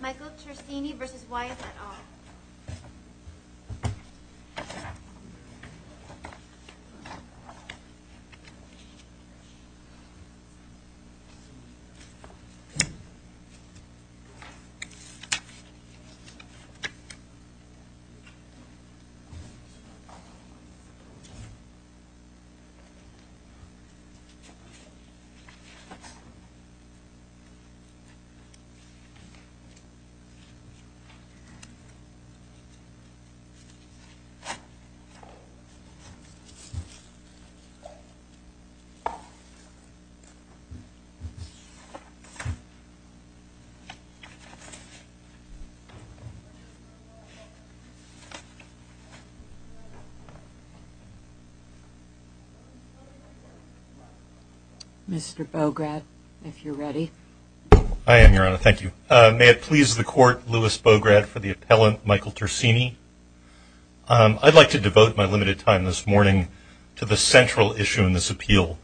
Michael Tersigni v. Wyeth et al. Michael Tersigni v. Wyeth et al. May it please the Court, Lewis Bograd for the appellant Michael Tersigni. I'd like to devote my limited time this morning to the central issue in this appeal,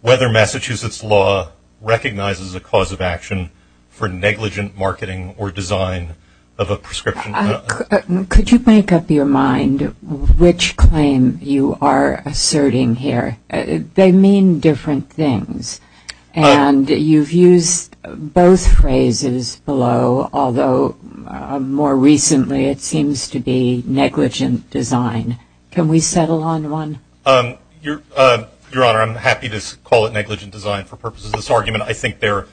whether Massachusetts law recognizes a cause of action for negligent marketing or design of a prescription. Could you make up your mind which claim you are asserting here? They mean different things, and you've used both phrases below, although more recently it seems to be negligent design. Can we settle on one? Your Honor, I'm happy to call it negligent design for purposes of this argument. I think they're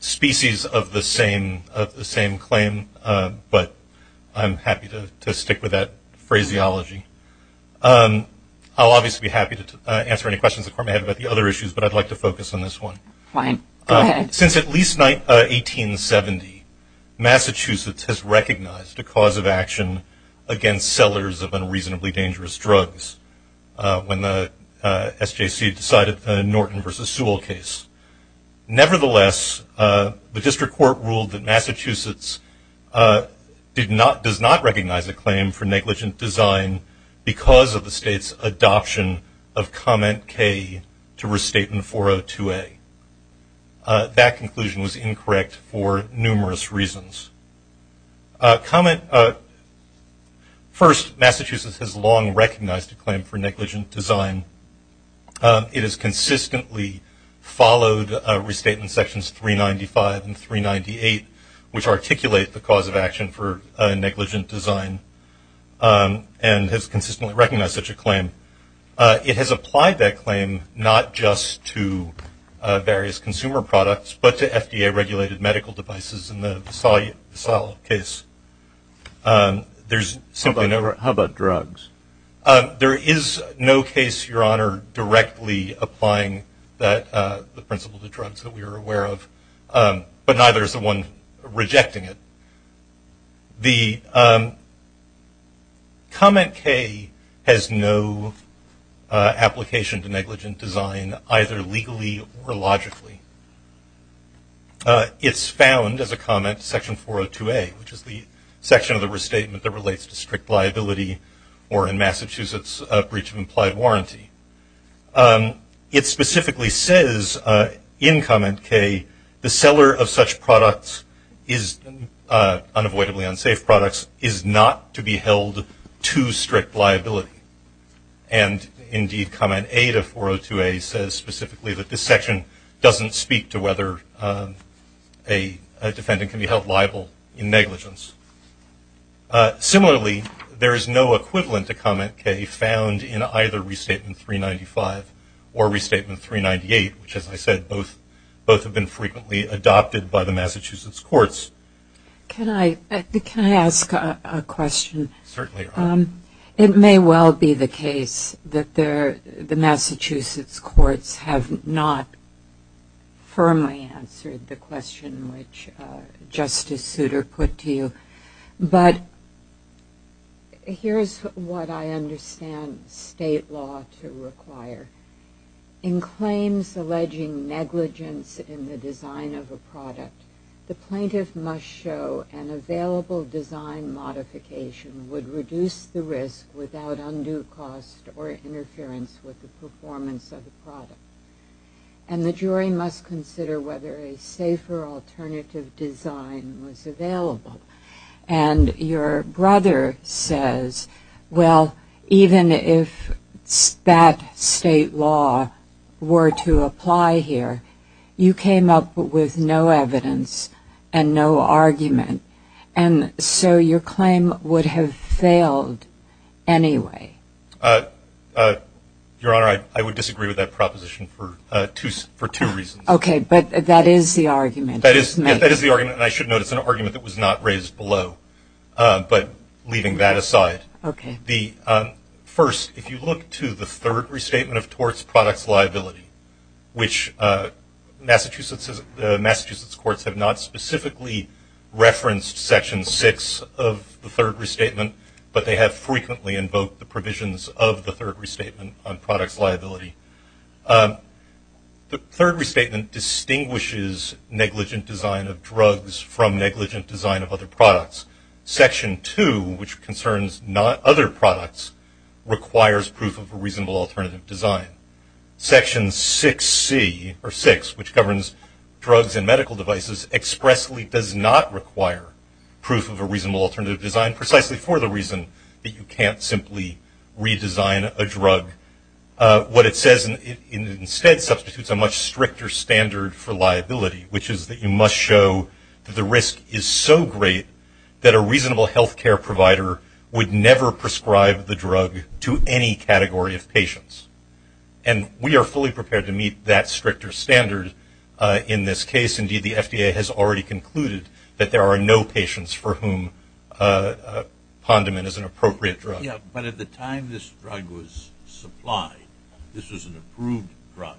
species of the same claim, but I'm happy to stick with that phraseology. I'll obviously be happy to answer any questions the Court may have about the other issues, but I'd like to focus on this one. Since at least 1870, Massachusetts has recognized a cause of action against sellers of unreasonably dangerous drugs when the SJC decided the Norton v. Sewell case. Nevertheless, the District Court ruled that Massachusetts does not recognize a claim for negligent design because of the State's adoption of Comment K to Restatement 402A. That conclusion was incorrect for numerous reasons. First, Massachusetts has long recognized a claim for negligent design. It has consistently followed Restatement Sections 395 and 398, which articulate the cause of action for negligent design, and has consistently recognized such a claim. It has applied that claim not just to various consumer products, but to FDA-regulated medical devices in the Sewell case. How about drugs? There is no case, Your Honor, directly applying the principle to drugs that we are aware of, but neither is the one rejecting it. The Comment K has no application to negligent design, either legally or logically. It's found as a comment to Section 402A, which is the section of the Restatement that relates to strict liability or, in Massachusetts, a breach of implied warranty. It specifically says in Comment K, the seller of such products, unavoidably unsafe products, is not to be held to strict liability. And, indeed, Comment A to 402A says specifically that this section doesn't speak to whether a defendant can be held liable in negligence. Similarly, there is no equivalent to Comment K found in either Restatement 395 or Restatement 398, which, as I said, both have been frequently adopted by the Massachusetts courts. Can I ask a question? Certainly, Your Honor. It may well be the case that the Massachusetts courts have not firmly answered the question which Justice Souter put to you. But here's what I understand state law to require. In claims alleging negligence in the design of a product, the plaintiff must show an available design modification would reduce the risk without undue cost or interference with the performance of the product. And the jury must consider whether a safer alternative design was available. And your brother says, well, even if that state law were to apply here, you came up with no evidence and no argument. And so your claim would have failed anyway. Your Honor, I would disagree with that proposition for two reasons. Okay, but that is the argument. That is the argument. And I should note it's an argument that was not raised below. But leaving that aside, first, if you look to the third restatement of torts products liability, which Massachusetts courts have not specifically referenced Section 6 of the third restatement, but they have frequently invoked the provisions of the third restatement on products liability. The third restatement distinguishes negligent design of drugs from negligent design of other products. Section 2, which concerns other products, requires proof of a reasonable alternative design. Section 6C, or 6, which governs drugs and medical devices, expressly does not require proof of a reasonable alternative design, precisely for the reason that you can't simply redesign a drug. What it says instead substitutes a much stricter standard for liability, which is that you must show that the risk is so great that a reasonable health care provider would never prescribe the drug to any category of patients. And we are fully prepared to meet that stricter standard in this case. Indeed, the FDA has already concluded that there are no patients for whom Pondemon is an appropriate drug. Yeah, but at the time this drug was supplied, this was an approved drug,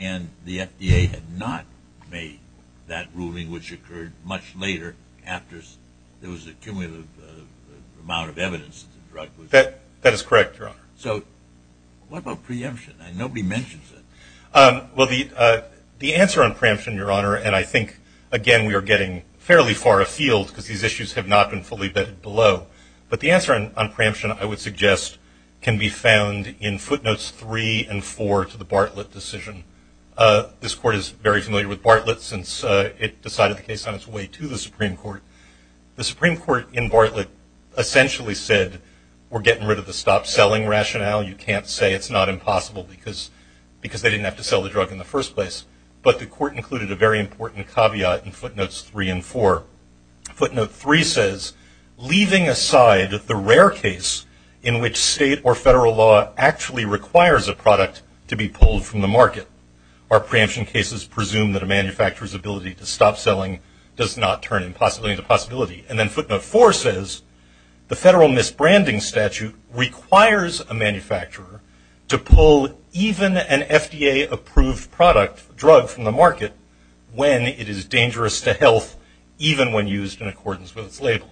and the FDA had not made that ruling, which occurred much later, after there was a cumulative amount of evidence that the drug was approved. That is correct, Your Honor. So what about preemption? Nobody mentions it. Well, the answer on preemption, Your Honor, and I think, again, we are getting fairly far afield, because these issues have not been fully vetted below, but the answer on preemption, I would suggest, can be found in footnotes 3 and 4 to the Bartlett decision. This Court is very familiar with Bartlett, since it decided the case on its way to the Supreme Court. The Supreme Court in Bartlett essentially said, we're getting rid of the stop-selling rationale. You can't say it's not impossible, because they didn't have to sell the drug in the first place. But the Court included a very important caveat in footnotes 3 and 4. Footnote 3 says, leaving aside the rare case in which state or federal law actually requires a product to be pulled from the market. Our preemption cases presume that a manufacturer's ability to stop selling does not turn impossibility into possibility. And then footnote 4 says, the federal misbranding statute requires a manufacturer to pull even an FDA-approved product, drug from the market, when it is dangerous to health, even when used in accordance with its labeling.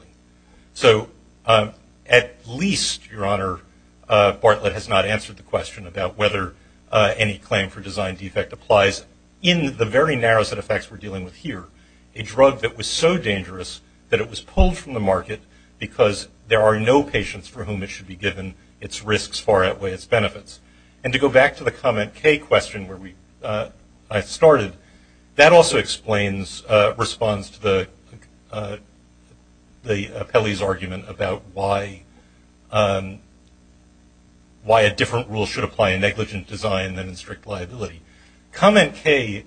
So at least, Your Honor, Bartlett has not answered the question about whether any claim for design defect applies, in the very narrow set of facts we're dealing with here. A drug that was so dangerous that it was pulled from the market, because there are no patients for whom it should be given its risks far outweigh its benefits. And to go back to the comment K question where I started, that also responds to the appellee's argument about why a different rule should apply in negligent design than in strict liability. Comment K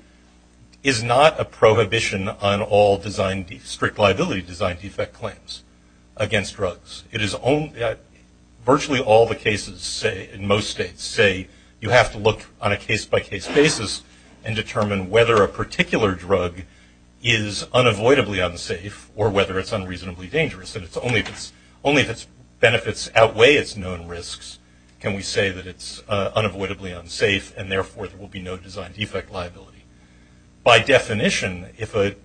is not a prohibition on all strict liability design defect claims against drugs. Virtually all the cases in most states say you have to look on a case-by-case basis and determine whether a particular drug is unavoidably unsafe or whether it's unreasonably dangerous. And only if its benefits outweigh its known risks can we say that it's unavoidably unsafe, and therefore there will be no design defect liability. By definition, if a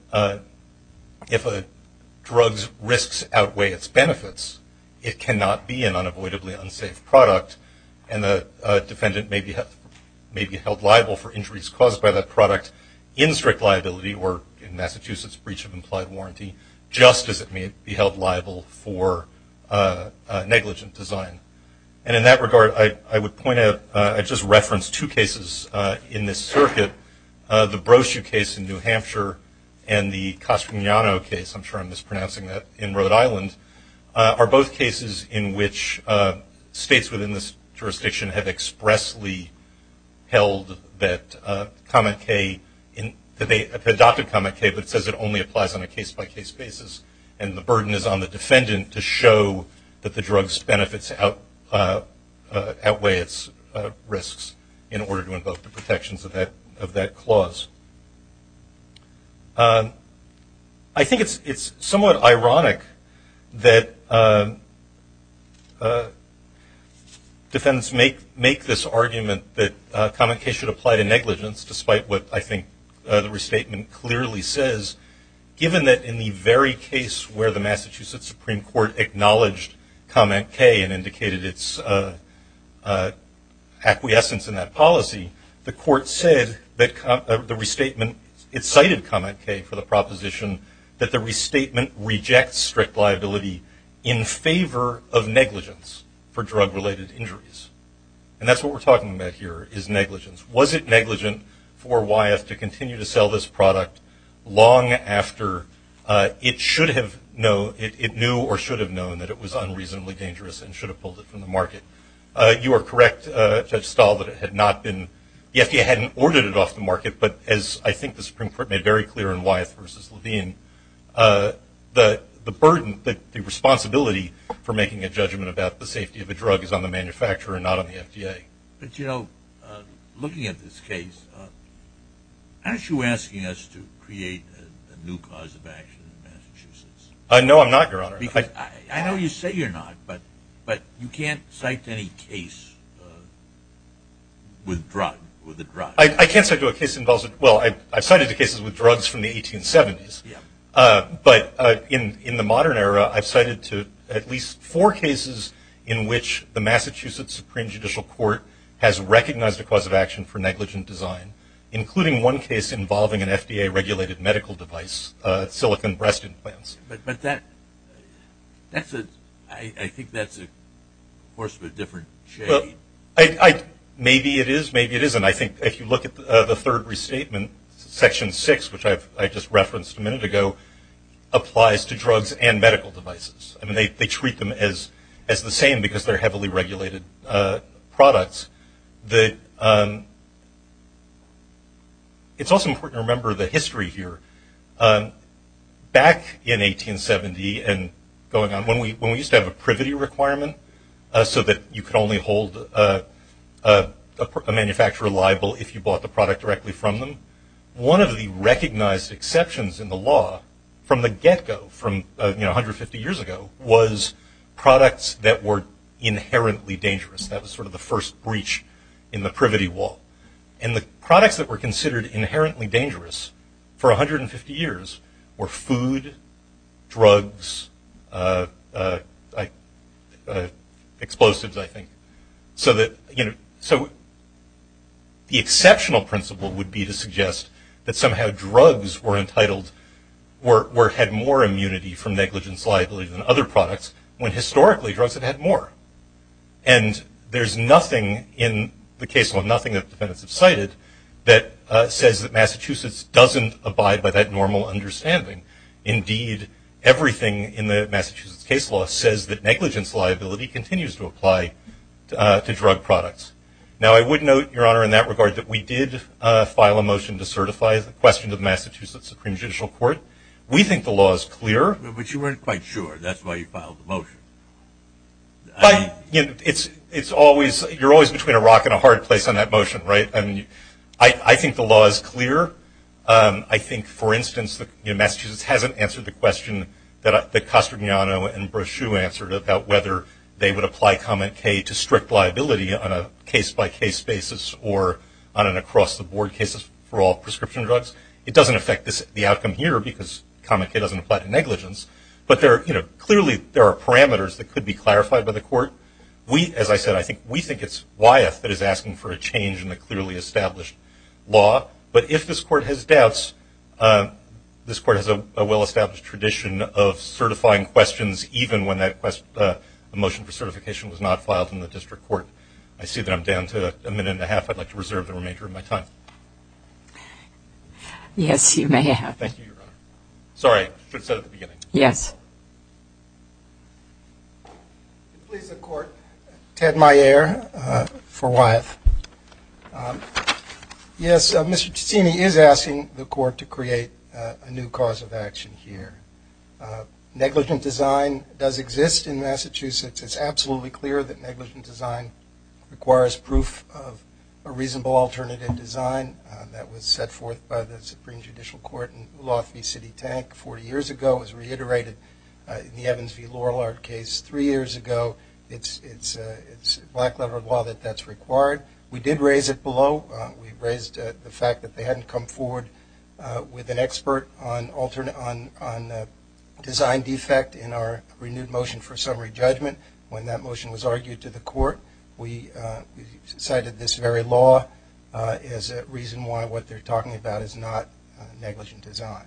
drug's risks outweigh its benefits, it cannot be an unavoidably unsafe product, and the defendant may be held liable for injuries caused by that product in strict liability or in Massachusetts Breach of Implied Warranty, just as it may be held liable for negligent design. And in that regard, I would point out, I just referenced two cases in this circuit. The Brochu case in New Hampshire and the Castagnano case, I'm sure I'm mispronouncing that, in Rhode Island, are both cases in which states within this jurisdiction have expressly held that comment K, that they adopted comment K but says it only applies on a case-by-case basis, and the burden is on the defendant to show that the drug's benefits outweigh its risks in order to invoke the protections of that clause. I think it's somewhat ironic that defendants make this argument that comment K should apply to negligence, despite what I think the restatement clearly says, given that in the very case where the Massachusetts Supreme Court acknowledged comment K and indicated its acquiescence in that policy, the court said that the restatement cited comment K for the proposition that the restatement rejects strict liability in favor of negligence for drug-related injuries. And that's what we're talking about here, is negligence. Was it negligent for Wyeth to continue to sell this product long after it should have known, it knew or should have known that it was unreasonably dangerous and should have pulled it from the market? You are correct, Judge Stahl, that it had not been, the FDA hadn't ordered it off the market, but as I think the Supreme Court made very clear in Wyeth v. Levine, the burden, the responsibility for making a judgment about the safety of a drug is on the manufacturer and not on the FDA. But, you know, looking at this case, aren't you asking us to create a new cause of action in Massachusetts? No, I'm not, Your Honor. I know you say you're not, but you can't cite any case with a drug. I can't cite a case that involves a drug. Well, I've cited the cases with drugs from the 1870s, but in the modern era, I've cited at least four cases in which the Massachusetts Supreme Judicial Court has recognized a cause of action for negligent design, including one case involving an FDA-regulated medical device, silicon breast implants. But that's a, I think that's a course of a different shade. Maybe it is, maybe it isn't. I think if you look at the third restatement, Section 6, which I just referenced a minute ago, applies to drugs and medical devices. I mean, they treat them as the same because they're heavily regulated products. It's also important to remember the history here. Back in 1870 and going on, when we used to have a privity requirement so that you could only hold a manufacturer liable if you bought the product directly from them, one of the recognized exceptions in the law from the get-go, from 150 years ago, was products that were inherently dangerous. That was sort of the first breach in the privity wall. And the products that were considered inherently dangerous for 150 years were food, drugs, explosives, I think. So the exceptional principle would be to suggest that somehow drugs were entitled, or had more immunity from negligence liability than other products, when historically drugs have had more. And there's nothing in the case law, nothing that the defendants have cited, that says that Massachusetts doesn't abide by that normal understanding. Indeed, everything in the Massachusetts case law says that negligence liability continues to apply to drug products. Now, I would note, Your Honor, in that regard, that we did file a motion to certify the question to the Massachusetts Supreme Judicial Court. We think the law is clear. But you weren't quite sure. That's why you filed the motion. It's always, you're always between a rock and a hard place on that motion, right? I think the law is clear. I think, for instance, Massachusetts hasn't answered the question that Castagnano and Braschew answered about whether they would apply comment K to strict liability on a case-by-case basis or on an across-the-board case for all prescription drugs. It doesn't affect the outcome here because comment K doesn't apply to negligence. But clearly there are parameters that could be clarified by the court. As I said, I think we think it's Wyeth that is asking for a change in the clearly established law. But if this court has doubts, this court has a well-established tradition of certifying questions even when the motion for certification was not filed in the district court. I see that I'm down to a minute and a half. I'd like to reserve the remainder of my time. Yes, you may have. Thank you, Your Honor. Sorry, I should have said it at the beginning. Yes. Please, the court. Ted Meyer for Wyeth. Yes, Mr. Ciccini is asking the court to create a new cause of action here. Negligent design does exist in Massachusetts. It's absolutely clear that negligent design requires proof of a reasonable alternative design. That was set forth by the Supreme Judicial Court in Lothby City Tank 40 years ago. It was reiterated in the Evans v. Lorillard case three years ago. It's a black-leathered law that that's required. We did raise it below. We raised the fact that they hadn't come forward with an expert on design defect in our renewed motion for summary judgment. When that motion was argued to the court, we cited this very law as a reason why what they're talking about is not negligent design.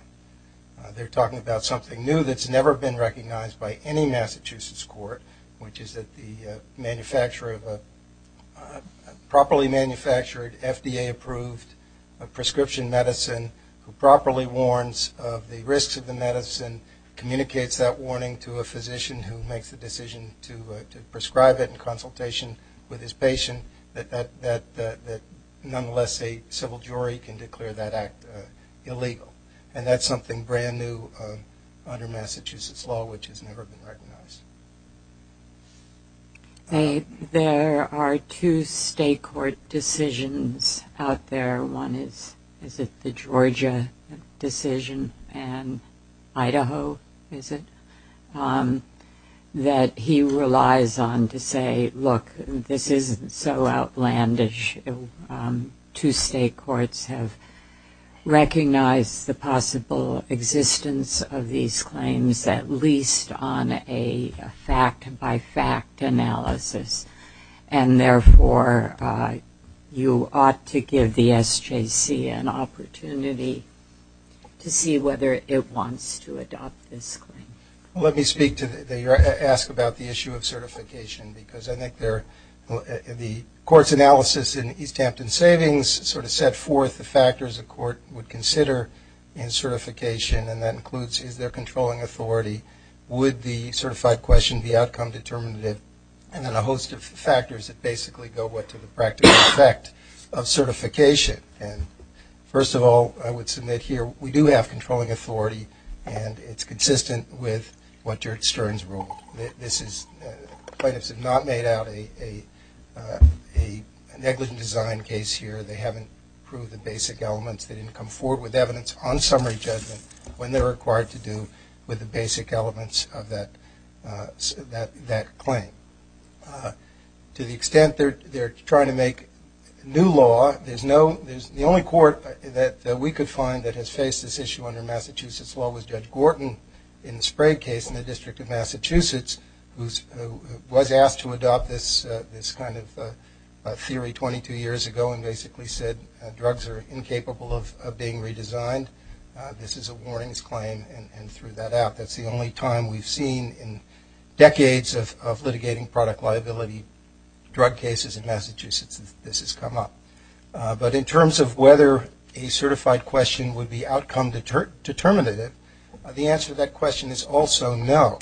They're talking about something new that's never been recognized by any Massachusetts court, which is that the manufacturer of a properly manufactured, FDA-approved prescription medicine who properly warns of the risks of the medicine communicates that warning to a physician who makes the decision to prescribe it in consultation with his patient, that nonetheless a civil jury can declare that act illegal. And that's something brand new under Massachusetts law, which has never been recognized. There are two state court decisions out there. One is the Georgia decision and Idaho, is it, that he relies on to say, look, this isn't so outlandish. Two state courts have recognized the possible existence of these claims, at least on a fact-by-fact analysis, and therefore you ought to give the SJC an opportunity to see whether it wants to adopt this claim. Let me ask about the issue of certification, because I think the court's analysis in East Hampton Savings sort of set forth the factors a court would consider in certification, and that includes is there controlling authority, would the certified question the outcome determinative, and then a host of factors that basically go with to the practical effect of certification. First of all, I would submit here we do have controlling authority, and it's consistent with what George Stern's rule. This is, plaintiffs have not made out a negligent design case here. They haven't proved the basic elements. They didn't come forward with evidence on summary judgment when they're required to do with the basic elements of that claim. To the extent they're trying to make new law, the only court that we could find that has faced this issue under Massachusetts law was Judge Gorton in the Sprague case in the District of Massachusetts, who was asked to adopt this kind of theory 22 years ago and basically said drugs are incapable of being redesigned. This is a warnings claim and threw that out. That's the only time we've seen in decades of litigating product liability drug cases in Massachusetts this has come up. But in terms of whether a certified question would be outcome determinative, the answer to that question is also no.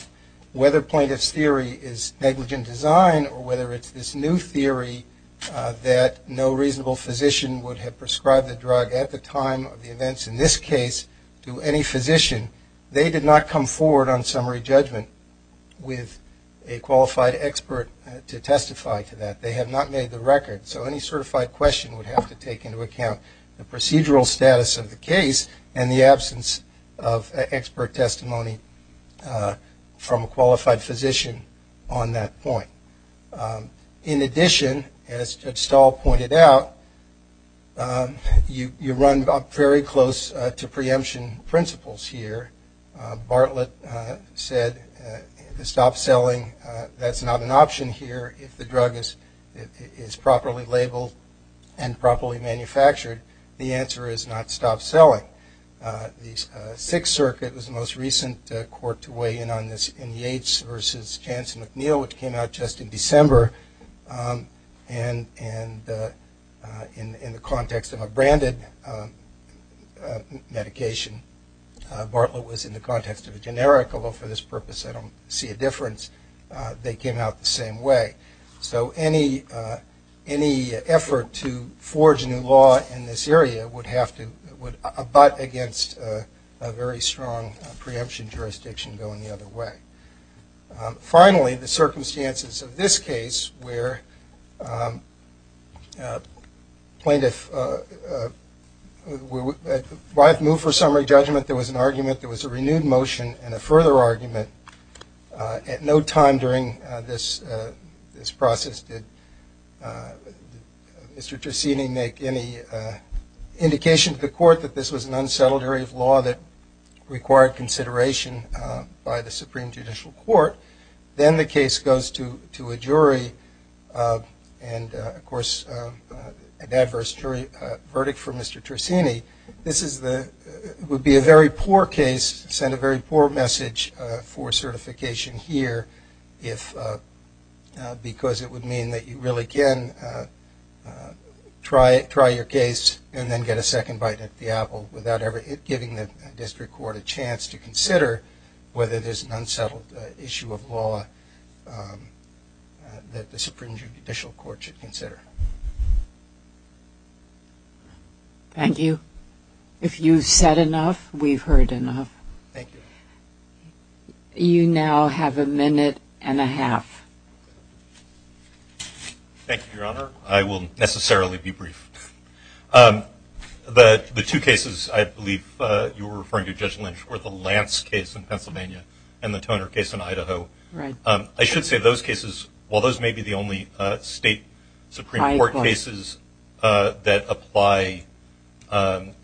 Whether plaintiff's theory is negligent design or whether it's this new theory that no reasonable physician would have prescribed the drug at the time of the events in this case to any physician, they did not come forward on summary judgment with a qualified expert to testify to that. They have not made the record. So any certified question would have to take into account the procedural status of the case and the absence of expert testimony from a qualified physician on that point. In addition, as Judge Stahl pointed out, you run very close to preemption principles here. Bartlett said to stop selling, that's not an option here. If the drug is properly labeled and properly manufactured, the answer is not stop selling. The Sixth Circuit was the most recent court to weigh in on this in Yates versus Jansen McNeil, which came out just in December. And in the context of a branded medication, Bartlett was in the context of a generic, although for this purpose I don't see a difference. They came out the same way. So any effort to forge a new law in this area would have to, would abut against a very strong preemption jurisdiction going the other way. Finally, the circumstances of this case where plaintiff, why it moved for summary judgment, there was an argument, there was a renewed motion and a further argument. At no time during this process did Mr. Tersini make any indication to the court that this was an unsettled area of law that required consideration by the Supreme Judicial Court. Then the case goes to a jury and, of course, an adverse jury verdict for Mr. Tersini. This would be a very poor case, send a very poor message for certification here, because it would mean that you really can try your case and then get a second bite at the apple without ever giving the district court a chance to consider whether there's an unsettled issue of law that the Supreme Judicial Court should consider. Thank you. If you've said enough, we've heard enough. Thank you. You now have a minute and a half. Thank you, Your Honor. I will necessarily be brief. The two cases I believe you were referring to, Judge Lynch, were the Lance case in Pennsylvania and the Toner case in Idaho. Right. I should say those cases, while those may be the only state Supreme Court cases that apply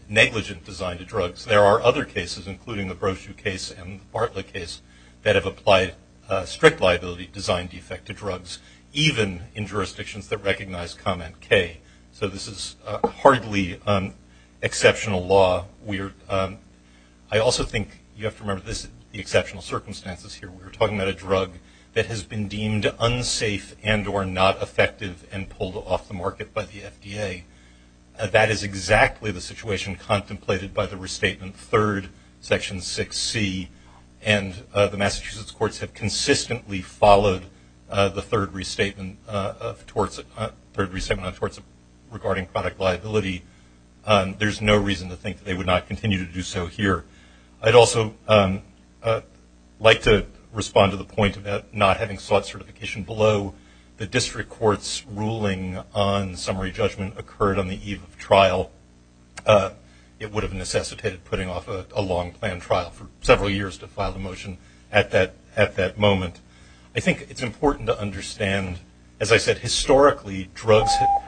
negligent design to drugs, there are other cases, including the Brochu case and the Bartlett case that have applied strict liability design defect to drugs, even in jurisdictions that recognize comment K. So this is hardly exceptional law. I also think you have to remember the exceptional circumstances here. We're talking about a drug that has been deemed unsafe and or not effective and pulled off the market by the FDA. That is exactly the situation contemplated by the restatement third, Section 6C, and the Massachusetts courts have consistently followed the third restatement of torts regarding product liability. There's no reason to think they would not continue to do so here. I'd also like to respond to the point about not having sought certification below. The district court's ruling on summary judgment occurred on the eve of trial. It would have necessitated putting off a long-planned trial for several years to file a motion at that moment. I think it's important to understand, as I said, historically, drugs have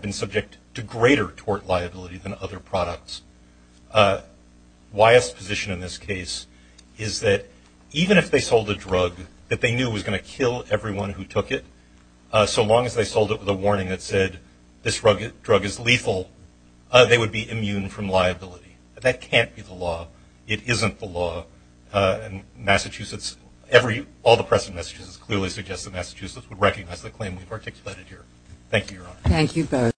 been subject to great than other products. Wyeth's position in this case is that even if they sold a drug that they knew was going to kill everyone who took it, so long as they sold it with a warning that said this drug is lethal, they would be immune from liability. That can't be the law. It isn't the law. And Massachusetts, all the press in Massachusetts clearly suggests that Massachusetts would recognize the claim we've articulated here. Thank you, Your Honor. Thank you both.